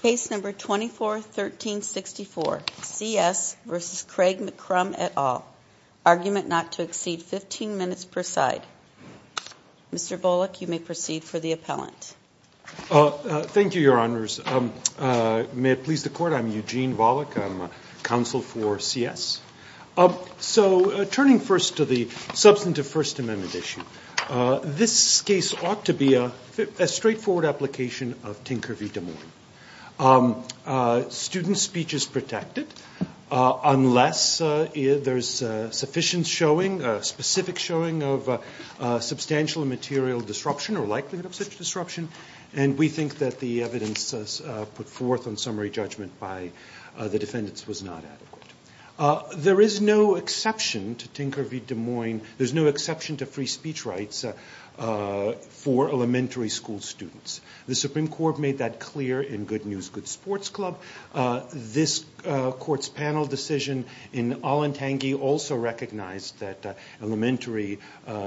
Case No. 24-1364, C.S. v. Craig McCrumb, et al., argument not to exceed 15 minutes per side. Mr. Volokh, you may proceed for the appellant. Thank you, Your Honors. May it please the Court, I'm Eugene Volokh. I'm counsel for C.S. So turning first to the substantive First Amendment issue, this case ought to be a straightforward application of Tinker v. Des Moines. Student speech is protected unless there's sufficient showing, specific showing of substantial material disruption or likelihood of such disruption, and we think that the evidence put forth on summary judgment by the defendants was not adequate. There is no exception to Tinker v. Des Moines, there's no exception to free school students. The Supreme Court made that clear in Good News, Good Sports Club. This Court's panel decision in Allentangy also recognized that elementary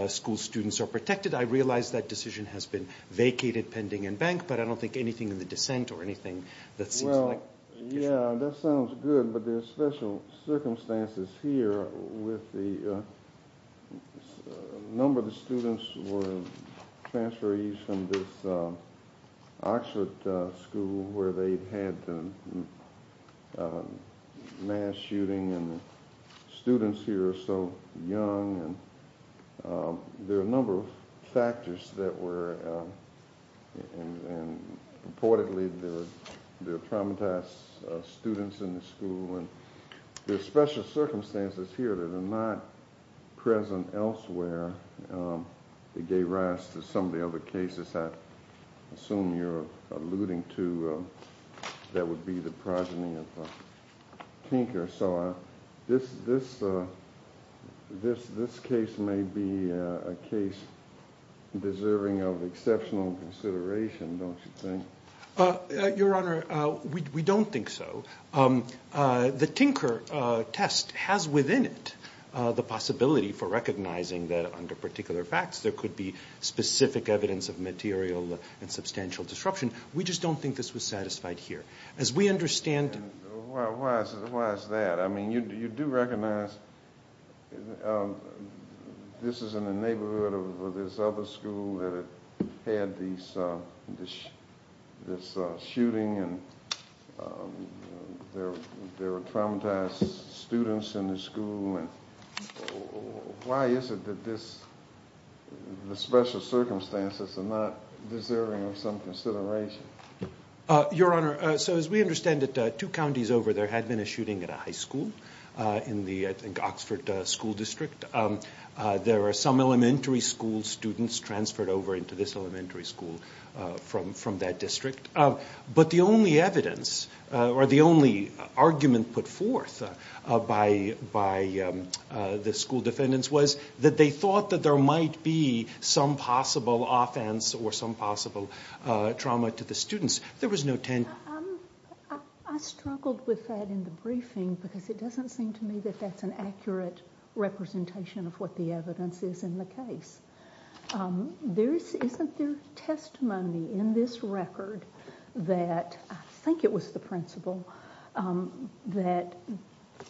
school students are protected. I realize that decision has been vacated pending in bank, but I don't think anything in the dissent or anything that seems like... Well, yeah, that sounds good, but there's special circumstances here with the number of students who were transferees from this Oxford school where they've had the mass shooting and the students here are so young, and there are a number of factors that were, and reportedly there were traumatized students in the school, and there's special circumstances here that are not present elsewhere. It gave rise to some of the other cases I assume you're alluding to that would be the progeny of Tinker, so this case may be a case deserving of exceptional consideration, don't you think? Your Honor, we don't think so. The Tinker test has within it the possibility for recognizing that under particular facts there could be specific evidence of material and substantial disruption. We just don't think this was satisfied here. As we understand... Why is that? I mean, you do recognize this is in the neighborhood of this other school that had had this shooting and there were traumatized students in the school, and why is it that the special circumstances are not deserving of some consideration? Your Honor, so as we understand it, two counties over there had been a shooting at a high school in the Oxford school district. There were some elementary school students transferred over into this elementary school from that district, but the only evidence, or the only argument put forth by the school defendants was that they thought that there might be some possible offense or some possible trauma to the students. There was no ten... I struggled with that in the briefing because it doesn't seem to me that that's an accurate representation of what the evidence is in the case. Isn't there testimony in this record that, I think it was the principal, that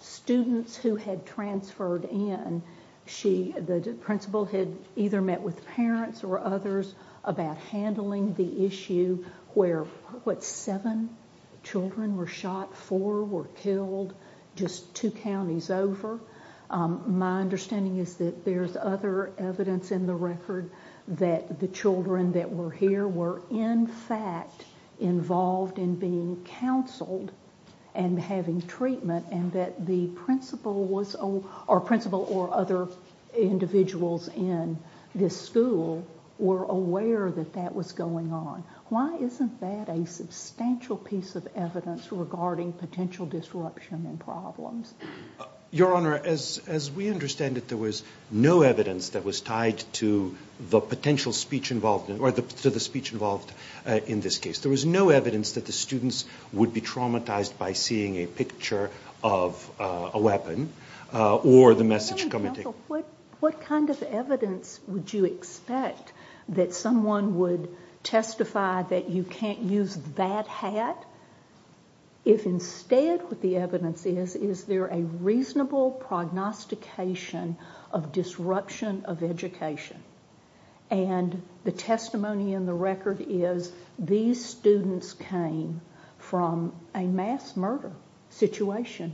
students who had transferred in, the principal had either met with parents or others about handling the issue where, what, seven children were shot, four were killed, just two counties over. My understanding is that there's other evidence in the record that the children that were here were in fact involved in being counseled and having treatment and that the principal was, or principal or other individuals in this school were aware that that was going on. Why isn't that a substantial piece of evidence regarding potential disruption and problems? Your Honor, as we understand it, there was no evidence that was tied to the potential speech involved, or to the speech involved in this case. There was no evidence that the students would be traumatized by seeing a picture of a weapon or the message coming to them. What kind of evidence would you expect that someone would testify that you can't use that hat if instead what the evidence is, is there a reasonable prognostication of disruption of education? The testimony in the record is these students came from a mass murder situation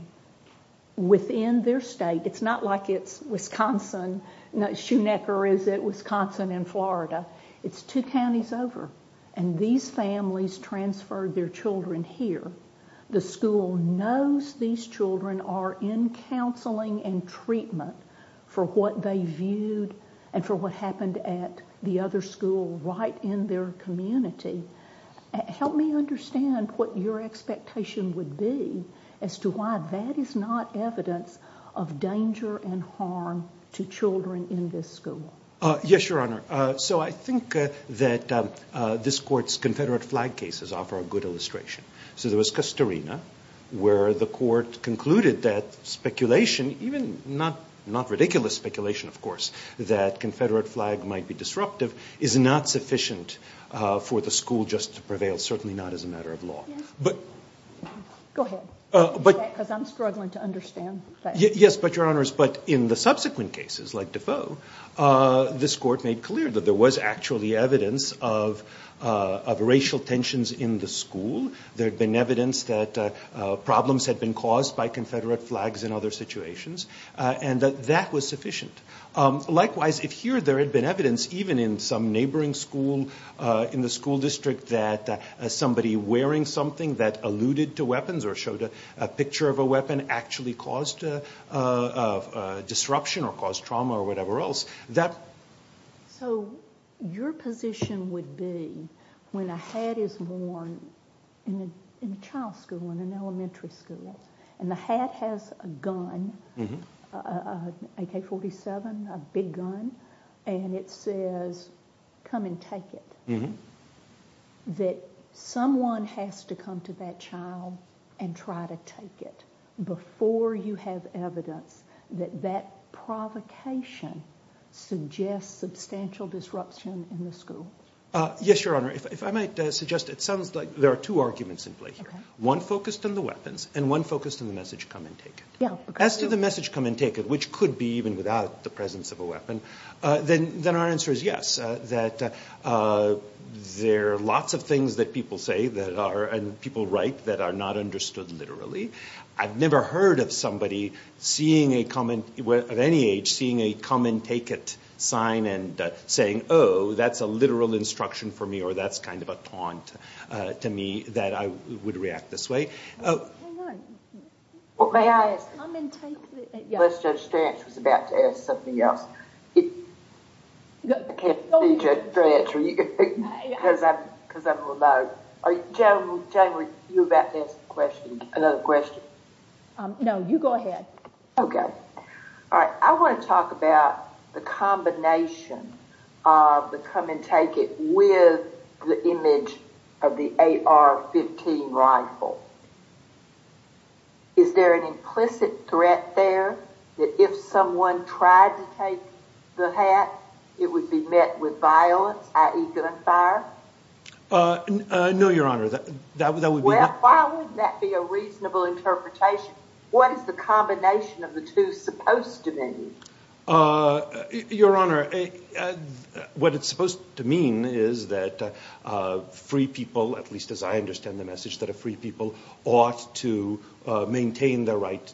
within their state. It's not like it's Wisconsin, Schoenecker is at Wisconsin in Florida. It's two counties over. These families transferred their children here. The school knows these children are in counseling and treatment for what they viewed and for what happened at the other school right in their community. Help me understand what your expectation would be as to why that is not evidence of danger and harm to children in this school. Yes, Your Honor. I think that this court's Confederate flag cases offer a good illustration. So there was Castorina where the court concluded that speculation, even not ridiculous speculation of course, that Confederate flag might be disruptive is not sufficient for the school just to prevail, certainly not as a matter of law. In the subsequent cases like Defoe, this court made clear that there was actually evidence of racial tensions in the school. There had been evidence that problems had been caused by Confederate flags in other situations and that that was sufficient. Likewise, if here there had been evidence even in some neighboring school, in the school district that somebody wearing something that alluded to weapons or showed a picture of a weapon actually caused disruption or caused trauma or whatever else, that... So your position would be when a hat is worn in a child's school, in an elementary school, and the hat has a gun, an AK-47, a big gun, and it says, come and take it, that someone has to come to that child and try to take it before you have evidence that that provocation suggests substantial disruption in the school? Yes, Your Honor. If I might suggest, it sounds like there are two arguments in play here, one focused on the weapons and one focused on the message, come and take it. As to the message, come and take it, which could be even without the presence of a weapon, then our answer is yes, that there are lots of things that people say that are, and people write that are not understood literally. I've never heard of somebody seeing a common, at any age, seeing a come and take it sign and saying, oh, that's a literal instruction for me or that's kind of a taunt to me that I would react this way. Well, may I ask, unless Judge Stanch was about to ask something else. I can't be Judge Stanch because I'm remote. Jane, were you about to ask another question? No, you go ahead. Okay. All right. I want to talk about the combination of the come and take it with the image of the AR-15 rifle. Is there an implicit threat there that if someone tried to take the hat, it would be met with violence, i.e., gunfire? No, Your Honor, that would be not... How would that be a reasonable interpretation? What is the combination of the two supposed to mean? Your Honor, what it's supposed to mean is that free people, at least as I understand the message, that a free people ought to maintain their right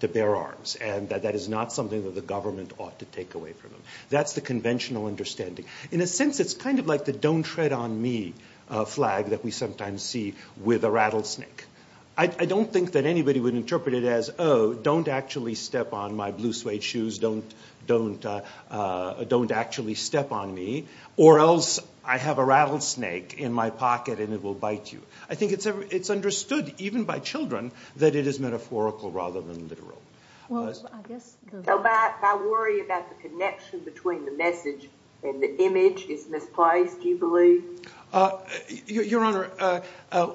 to bear arms and that that is not something that the government ought to take away from them. That's the conventional understanding. In a sense, it's kind of like the don't tread on me flag that we sometimes see with a rattlesnake. I don't think that anybody would interpret it as, oh, don't actually step on my blue suede shoes, don't actually step on me, or else I have a rattlesnake in my pocket and it will bite you. I think it's understood, even by children, that it is metaphorical rather than literal. Well, I guess... If I worry about the connection between the message and the image, isn't this placed, do you believe? Your Honor,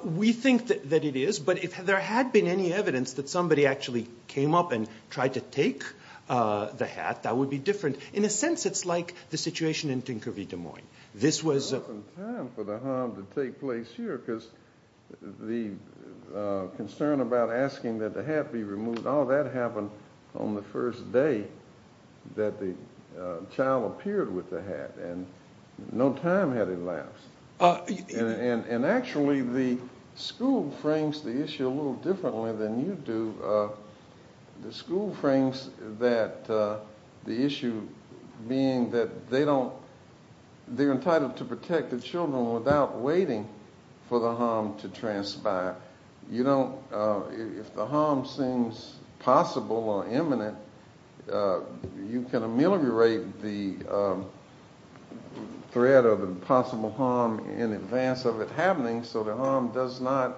we think that it is, but if there had been any evidence that somebody actually came up and tried to take the hat, that would be different. In a sense, it's like the situation in Tinker v. Des Moines. This was... There wasn't time for the harm to take place here because the concern about asking that the hat be removed, all that happened on the first day that the child appeared with the hat. And actually, the school frames the issue a little differently than you do. The school frames the issue being that they're entitled to protect the children without waiting for the harm to transpire. If the harm seems possible or imminent, you can ameliorate the threat or the possible harm in advance of it happening so the harm does not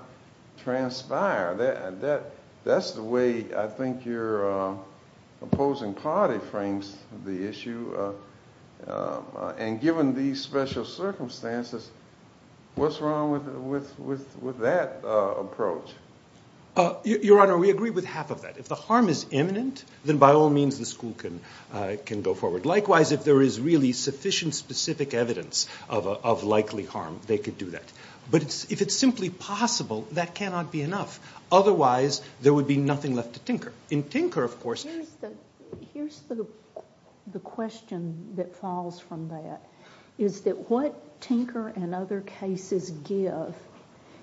transpire. That's the way I think your opposing party frames the issue. And given these special circumstances, what's wrong with that approach? Your Honor, we agree with half of that. If the harm is imminent, then by all means the sufficient specific evidence of likely harm, they could do that. But if it's simply possible, that cannot be enough. Otherwise, there would be nothing left to Tinker. In Tinker, of course... Here's the question that falls from that, is that what Tinker and other cases give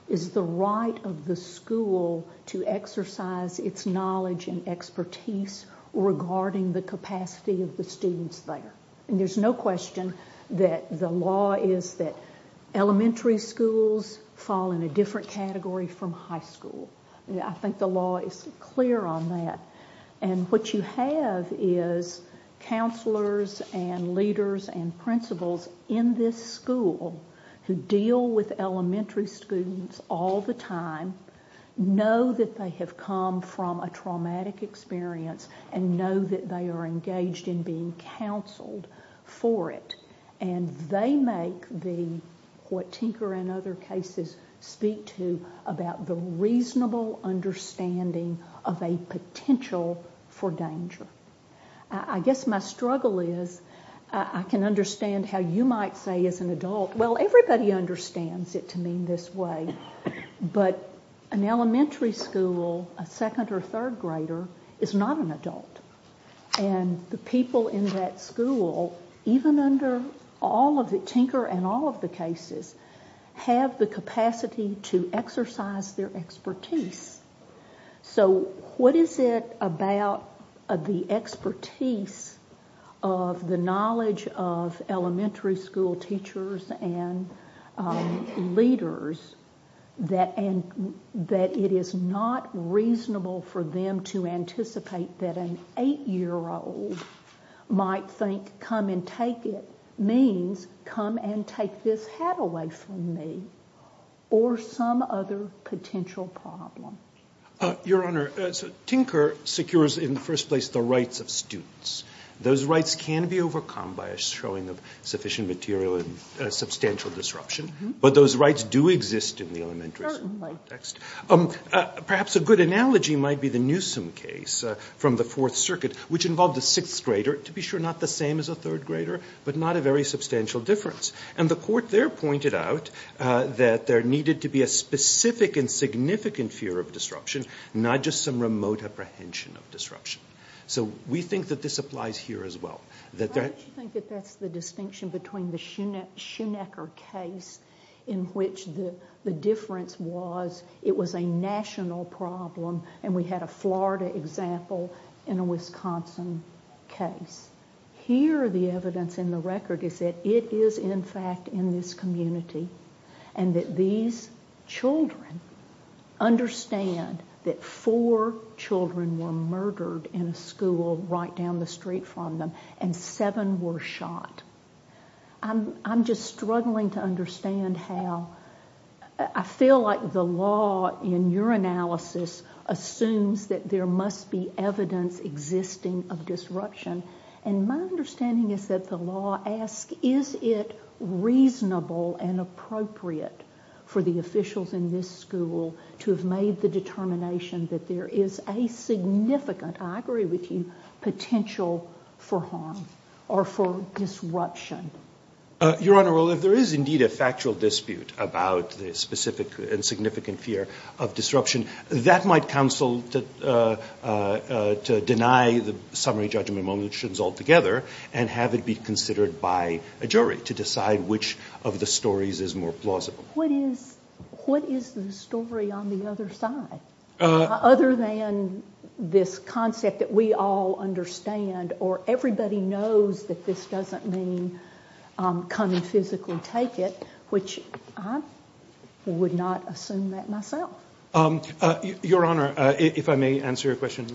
is the right of the school to exercise its knowledge and expertise regarding the capacity of the students there. And there's no question that the law is that elementary schools fall in a different category from high school. I think the law is clear on that. And what you have is counselors and leaders and principals in this school who deal with elementary students all the time, know that they have come from a traumatic experience, and know that they are engaged in being counseled for it. And they make what Tinker and other cases speak to about the reasonable understanding of a potential for danger. I guess my struggle is, I can understand how you might say as an adult, well, everybody understands it to mean this way, but an elementary school, a second or third grader, is not an adult. And the people in that school, even under all of the Tinker and all of the cases, have the capacity to exercise their expertise. So what is it about the expertise of the knowledge of elementary school teachers and leaders that it is not reasonable for them to anticipate that an eight-year-old might think, come and take it, means come and take this hat away from me, or some other potential problem? Your Honor, Tinker secures in the first place the rights of students. Those rights can be overcome by a showing of sufficient material and substantial disruption. But those rights do exist in the elementary school context. Perhaps a good analogy might be the Newsom case from the Fourth Circuit, which involved a sixth grader, to be sure not the same as a third grader, but not a very substantial difference. And the court there pointed out that there needed to be a specific and significant fear of disruption, not just some remote apprehension of disruption. So we think that this applies here as well. Why don't you think that that's the distinction between the Schoenecker case, in which the difference was it was a national problem, and we had a Florida example, and a Wisconsin case. Here the evidence and the record is that it is in fact in this community, and that these children understand that four children were murdered in a school right down the street from them, and seven were shot. I'm just struggling to understand how, I feel like the law in your analysis assumes that there must be evidence existing of disruption, and my understanding is that the law asks is it reasonable and appropriate for the officials in this school to have made the determination that there is a significant, I agree with you, potential for harm or for disruption? Your Honor, well, if there is indeed a factual dispute about the specific and significant fear of disruption, that might counsel to deny the summary judgment motions altogether and have it be considered by a jury to decide which of the stories is more plausible. What is the story on the other side, other than this concept that we all understand or everybody knows that this doesn't mean come and physically take it, which I would not assume that myself. Your Honor, if I may answer your question,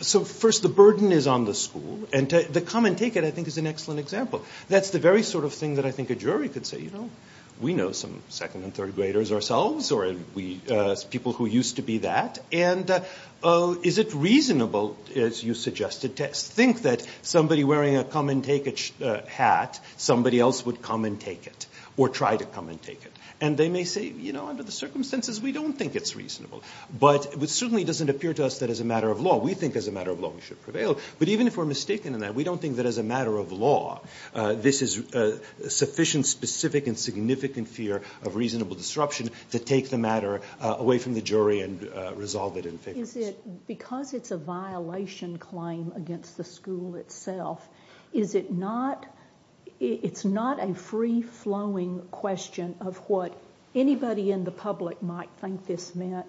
so first the burden is on the school, and the come and take it I think is an excellent example. That's the very sort of thing that I think a jury could say, you know, we know some second and third graders ourselves, or people who used to be that, and is it reasonable, as you suggested, to think that somebody wearing a come and take it hat, somebody else would come and take it, or try to come and take it. And they may say, you know, under the circumstances, we don't think it's reasonable. But it certainly doesn't appear to us that as a matter of law, we think as a matter of law, we should prevail. But even if we're mistaken in that, we don't think that as a matter of law, this is sufficient, specific, and significant fear of reasonable disruption to take the matter away from the jury and resolve it and fix it. Is it, because it's a violation claim against the school itself, is it not, it's not a free flowing question of what anybody in the public might think this meant,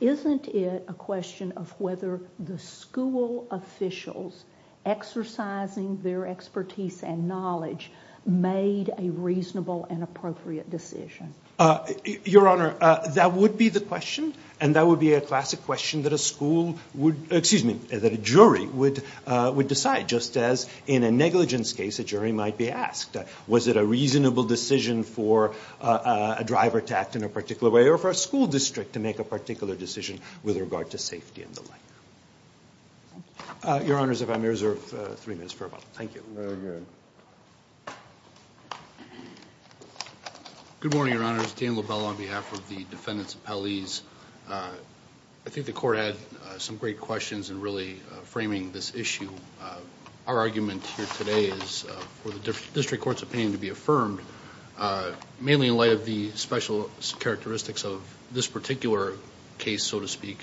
isn't it a question of whether the school officials exercising their expertise and knowledge made a reasonable and appropriate decision? Your Honor, that would be the question. And that would be a classic question that a school would, excuse me, that a jury would decide, just as in a negligence case, a jury might be asked, was it a reasonable decision for a driver to act in a particular way, or for a school district to make a particular decision with regard to safety and the like? Your Honors, if I may reserve three minutes for a moment. Thank you. Very good. Good morning, Your Honors. Dan Lobel on behalf of the defendants' appellees. I think the court had some great questions in really framing this issue. Our argument here today is for the district court's opinion to be affirmed, mainly in light of the special characteristics of this particular case, so to speak,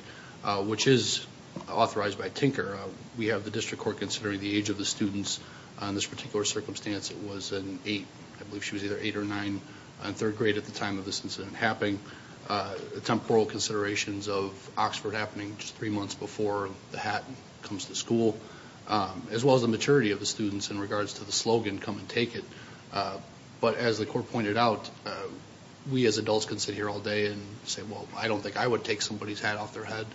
which is authorized by Tinker. We have the district court considering the age of the students on this particular circumstance. It was an 8, I believe she was either 8 or 9, in third grade at the time of this incident happening. Temporal considerations of Oxford happening just three months before the hat comes to school, as well as the maturity of the students in regards to the slogan, come and take it. But as the court pointed out, we as adults can sit here all day and say, well, I don't think I would take somebody's hat off their head.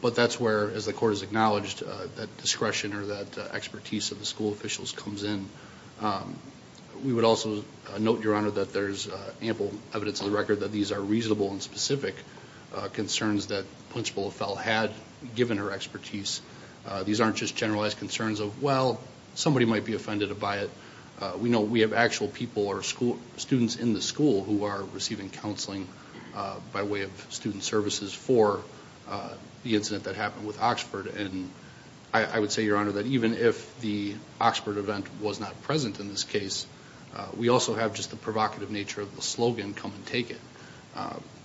But that's where, as the court has acknowledged, that discretion or that expertise of the school officials comes in. We would also note, Your Honor, that there's ample evidence on the record that these are reasonable and specific concerns that Principal LaFell had given her expertise. These aren't just generalized concerns of, well, somebody might be offended by it. We know we have actual people or students in the school who are receiving counseling by way of student services for the incident that happened with Oxford. And I would say, Your Honor, that even if the Oxford event was not present in this case, we also have just the provocative nature of the slogan, come and take it.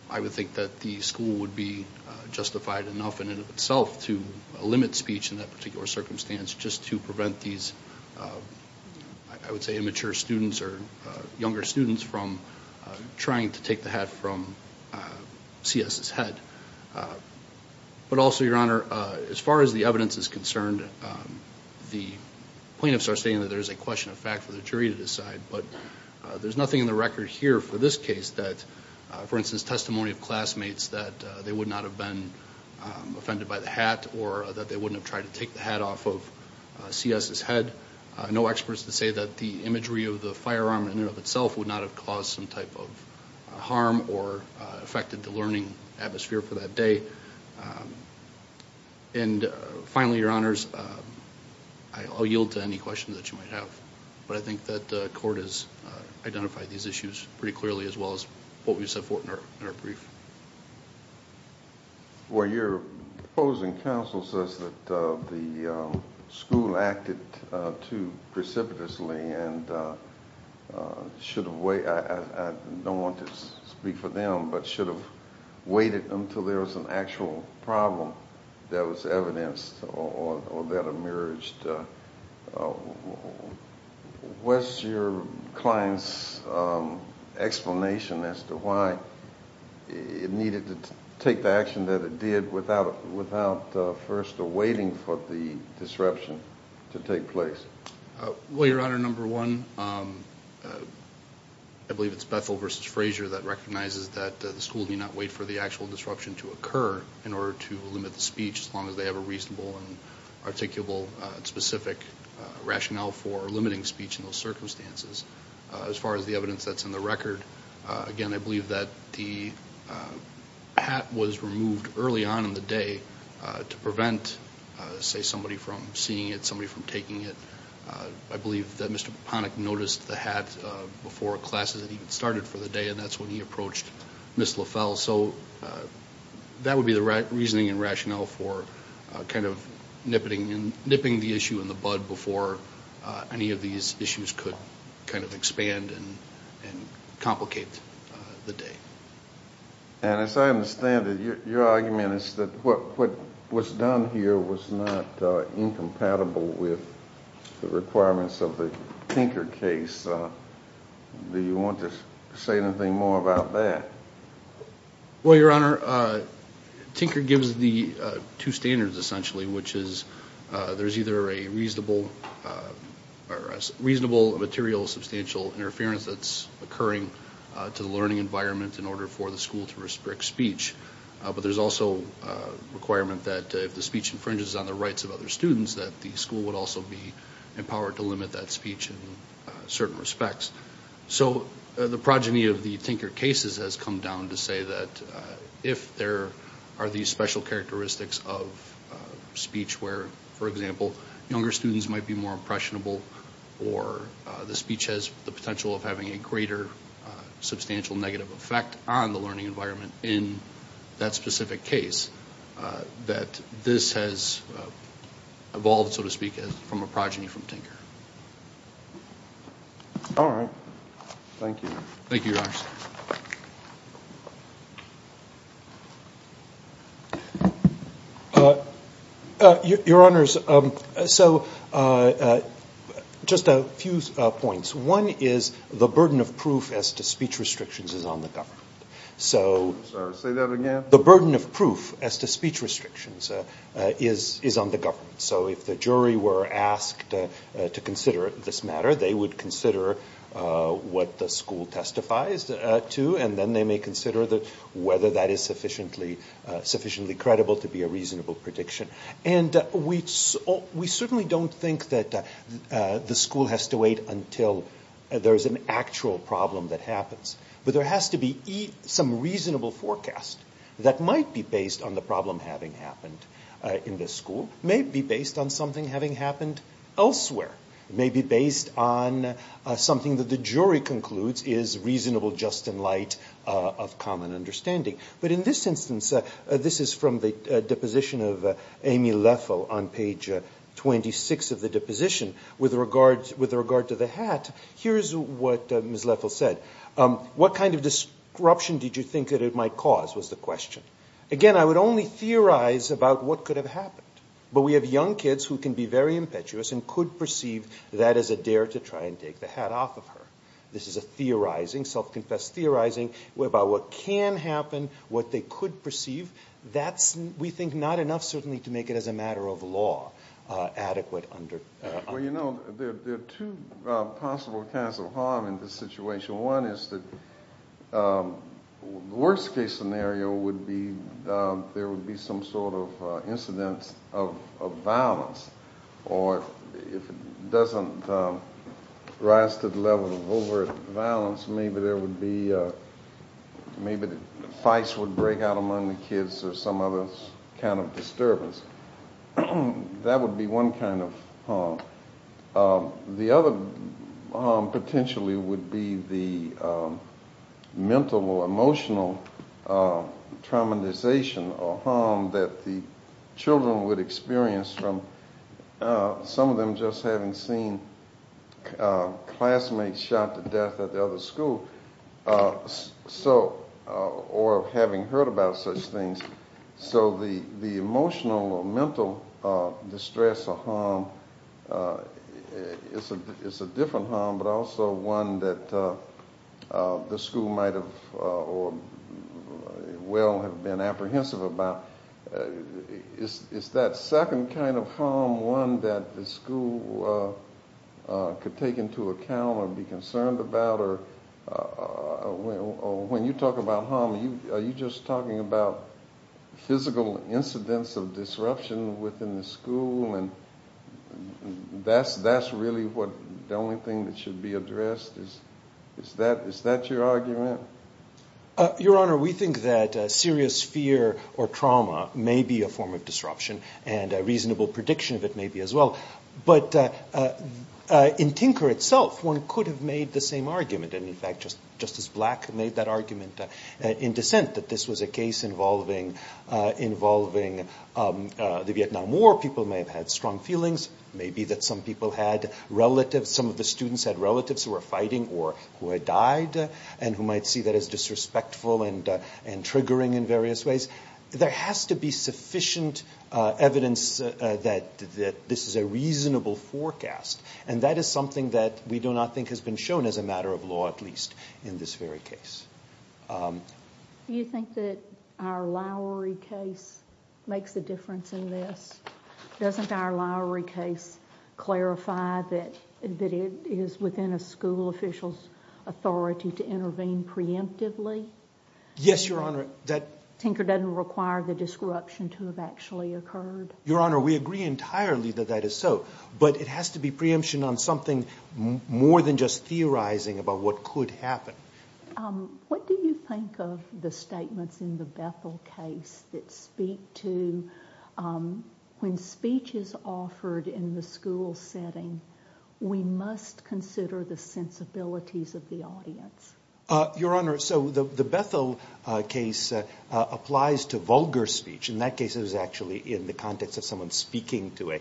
I would think that the school would be justified enough in and of itself to limit speech in that particular circumstance just to prevent these, I would say, immature students or younger students from trying to take the hat from C.S.'s head. But also, Your Honor, as far as the evidence is concerned, the plaintiffs are stating that there's a question of fact for the jury to decide. But there's nothing in the record here for this case that, for instance, testimony of classmates that they would not have been offended by the hat or that they wouldn't have tried to take the hat off of C.S.'s head. No experts to say that the imagery of the firearm in and of itself would not have caused some type of harm or affected the learning atmosphere for that day. And finally, Your Honors, I'll yield to any questions that you might have. But I think that the court has identified these issues pretty clearly as well as what we've set forth in our brief. Well, your opposing counsel says that the school acted too precipitously and should have waited. I don't want to speak for them, but should have waited until there was an actual problem that was evidenced or that emerged. What's your client's explanation as to why it needed to take the action that it did without first awaiting for the disruption to take place? Well, Your Honor, number one, I believe it's Bethel v. Frazier that recognizes that the school did not wait for the actual disruption to occur in order to limit the speech, as well as the specific rationale for limiting speech in those circumstances. As far as the evidence that's in the record, again, I believe that the hat was removed early on in the day to prevent, say, somebody from seeing it, somebody from taking it. I believe that Mr. Ponick noticed the hat before classes had even started for the day, and that's when he approached Ms. LaFell. So that would be the reasoning and rationale for kind of nipping the issue in the bud before any of these issues could kind of expand and complicate the day. And as I understand it, your argument is that what was done here was not incompatible with the requirements of the Tinker case. Do you want to say anything more about that? Well, Your Honor, Tinker gives the two standards, essentially, which is there's either a reasonable material substantial interference that's occurring to the learning environment in order for the school to restrict speech, but there's also a requirement that if the speech infringes on the rights of other students, that the school would also be empowered to limit that in certain respects. So the progeny of the Tinker cases has come down to say that if there are these special characteristics of speech where, for example, younger students might be more impressionable or the speech has the potential of having a greater substantial negative effect on the learning environment in that specific case, that this has evolved, so to speak, from a progeny from Tinker. All right. Thank you. Thank you, Your Honor. Your Honors, so just a few points. One is the burden of proof as to speech restrictions is on the government. Say that again? The burden of proof as to speech restrictions is on the government. So if the jury were asked to consider this matter, they would consider what the school testifies to, and then they may consider whether that is sufficiently credible to be a reasonable prediction. And we certainly don't think that the school has to wait until there's an actual problem that happens, but there has to be some reasonable forecast that might be based on the problem having happened in this school. It may be based on something having happened elsewhere. It may be based on something that the jury concludes is reasonable just in light of common understanding. But in this instance, this is from the deposition of Amy Leffel on page 26 of the deposition. With regard to the hat, here's what Ms. Leffel said. What kind of disruption did you think that it might cause was the question. Again, I would only theorize about what could have happened. But we have young kids who can be very impetuous and could perceive that as a dare to try and take the hat off of her. This is a theorizing, self-confessed theorizing about what can happen, what they could perceive. That's, we think, not enough, certainly, to make it as a matter of law adequate under the law. Well, you know, there are two possible kinds of harm in this situation. One is that the worst case scenario would be there would be some sort of incidence of violence. Or if it doesn't rise to the level of overt violence, maybe there would be, maybe the fights would break out among the kids or some other kind of disturbance. That would be one kind of harm. The other harm potentially would be the mental or emotional traumatization or harm that the children would experience from some of them just having seen classmates shot to death at the other school or having heard about such things. So the emotional or mental distress or harm is a different harm but also one that the school might have or will have been apprehensive about. Is that second kind of harm one that the school could take into account or be concerned about or when you talk about harm, are you just talking about physical incidence of disruption within the school and that's really the only thing that should be addressed? Is that your argument? Your Honor, we think that serious fear or trauma may be a form of disruption and a reasonable prediction of it may be as well. But in Tinker itself, one could have made the same argument and in fact Justice Black made that argument in dissent that this was a case involving the Vietnam War. People may have had strong feelings. Maybe that some people had relatives, some of the students had relatives who were fighting or who had died and who might see that as disrespectful and triggering in various ways. There has to be sufficient evidence that this is a reasonable forecast and that is something that we do not think has been shown as a matter of law at least in this very case. Do you think that our Lowry case makes a difference in this? Doesn't our Lowry case clarify that it is within a school official's authority to intervene preemptively? Yes, Your Honor. Tinker doesn't require the disruption to have actually occurred? Your Honor, we agree entirely that that is so. But it has to be preemption on something more than just theorizing about what could happen. What do you think of the statements in the Bethel case that speak to when speech is offered in the school setting, we must consider the sensibilities of the audience? Your Honor, so the Bethel case applies to vulgar speech. In that case, it was actually in the context of someone speaking to a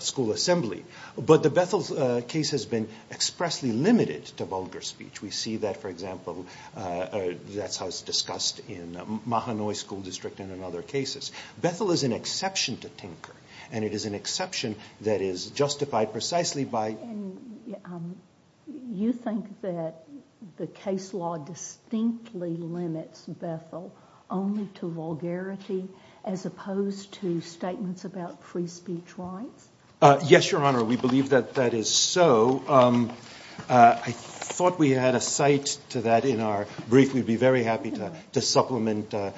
school assembly. But the Bethel case has been expressly limited to vulgar speech. We see that, for example, that's how it's discussed in Mahanoy School District and in other cases. Bethel is an exception to Tinker and it is an exception that is justified precisely by You think that the case law distinctly limits Bethel only to vulgarity as opposed to statements about free speech rights? Yes, Your Honor, we believe that that is so. I thought we had a cite to that in our brief. We'd be very happy to supplement, to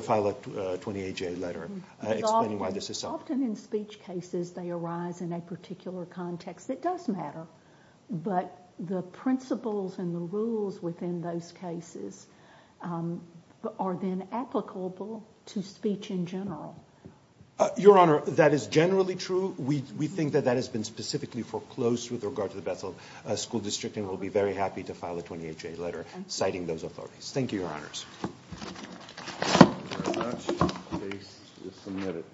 file a 28-J letter explaining why this is so. Often in speech cases, they arise in a particular context that does matter. But the principles and the rules within those cases are then applicable to speech in general. Your Honor, that is generally true. We think that that has been specifically foreclosed with regard to the Bethel School District and we'll be very happy to file a 28-J letter citing those authorities. Thank you, Your Honors. Thank you very much. The case is submitted.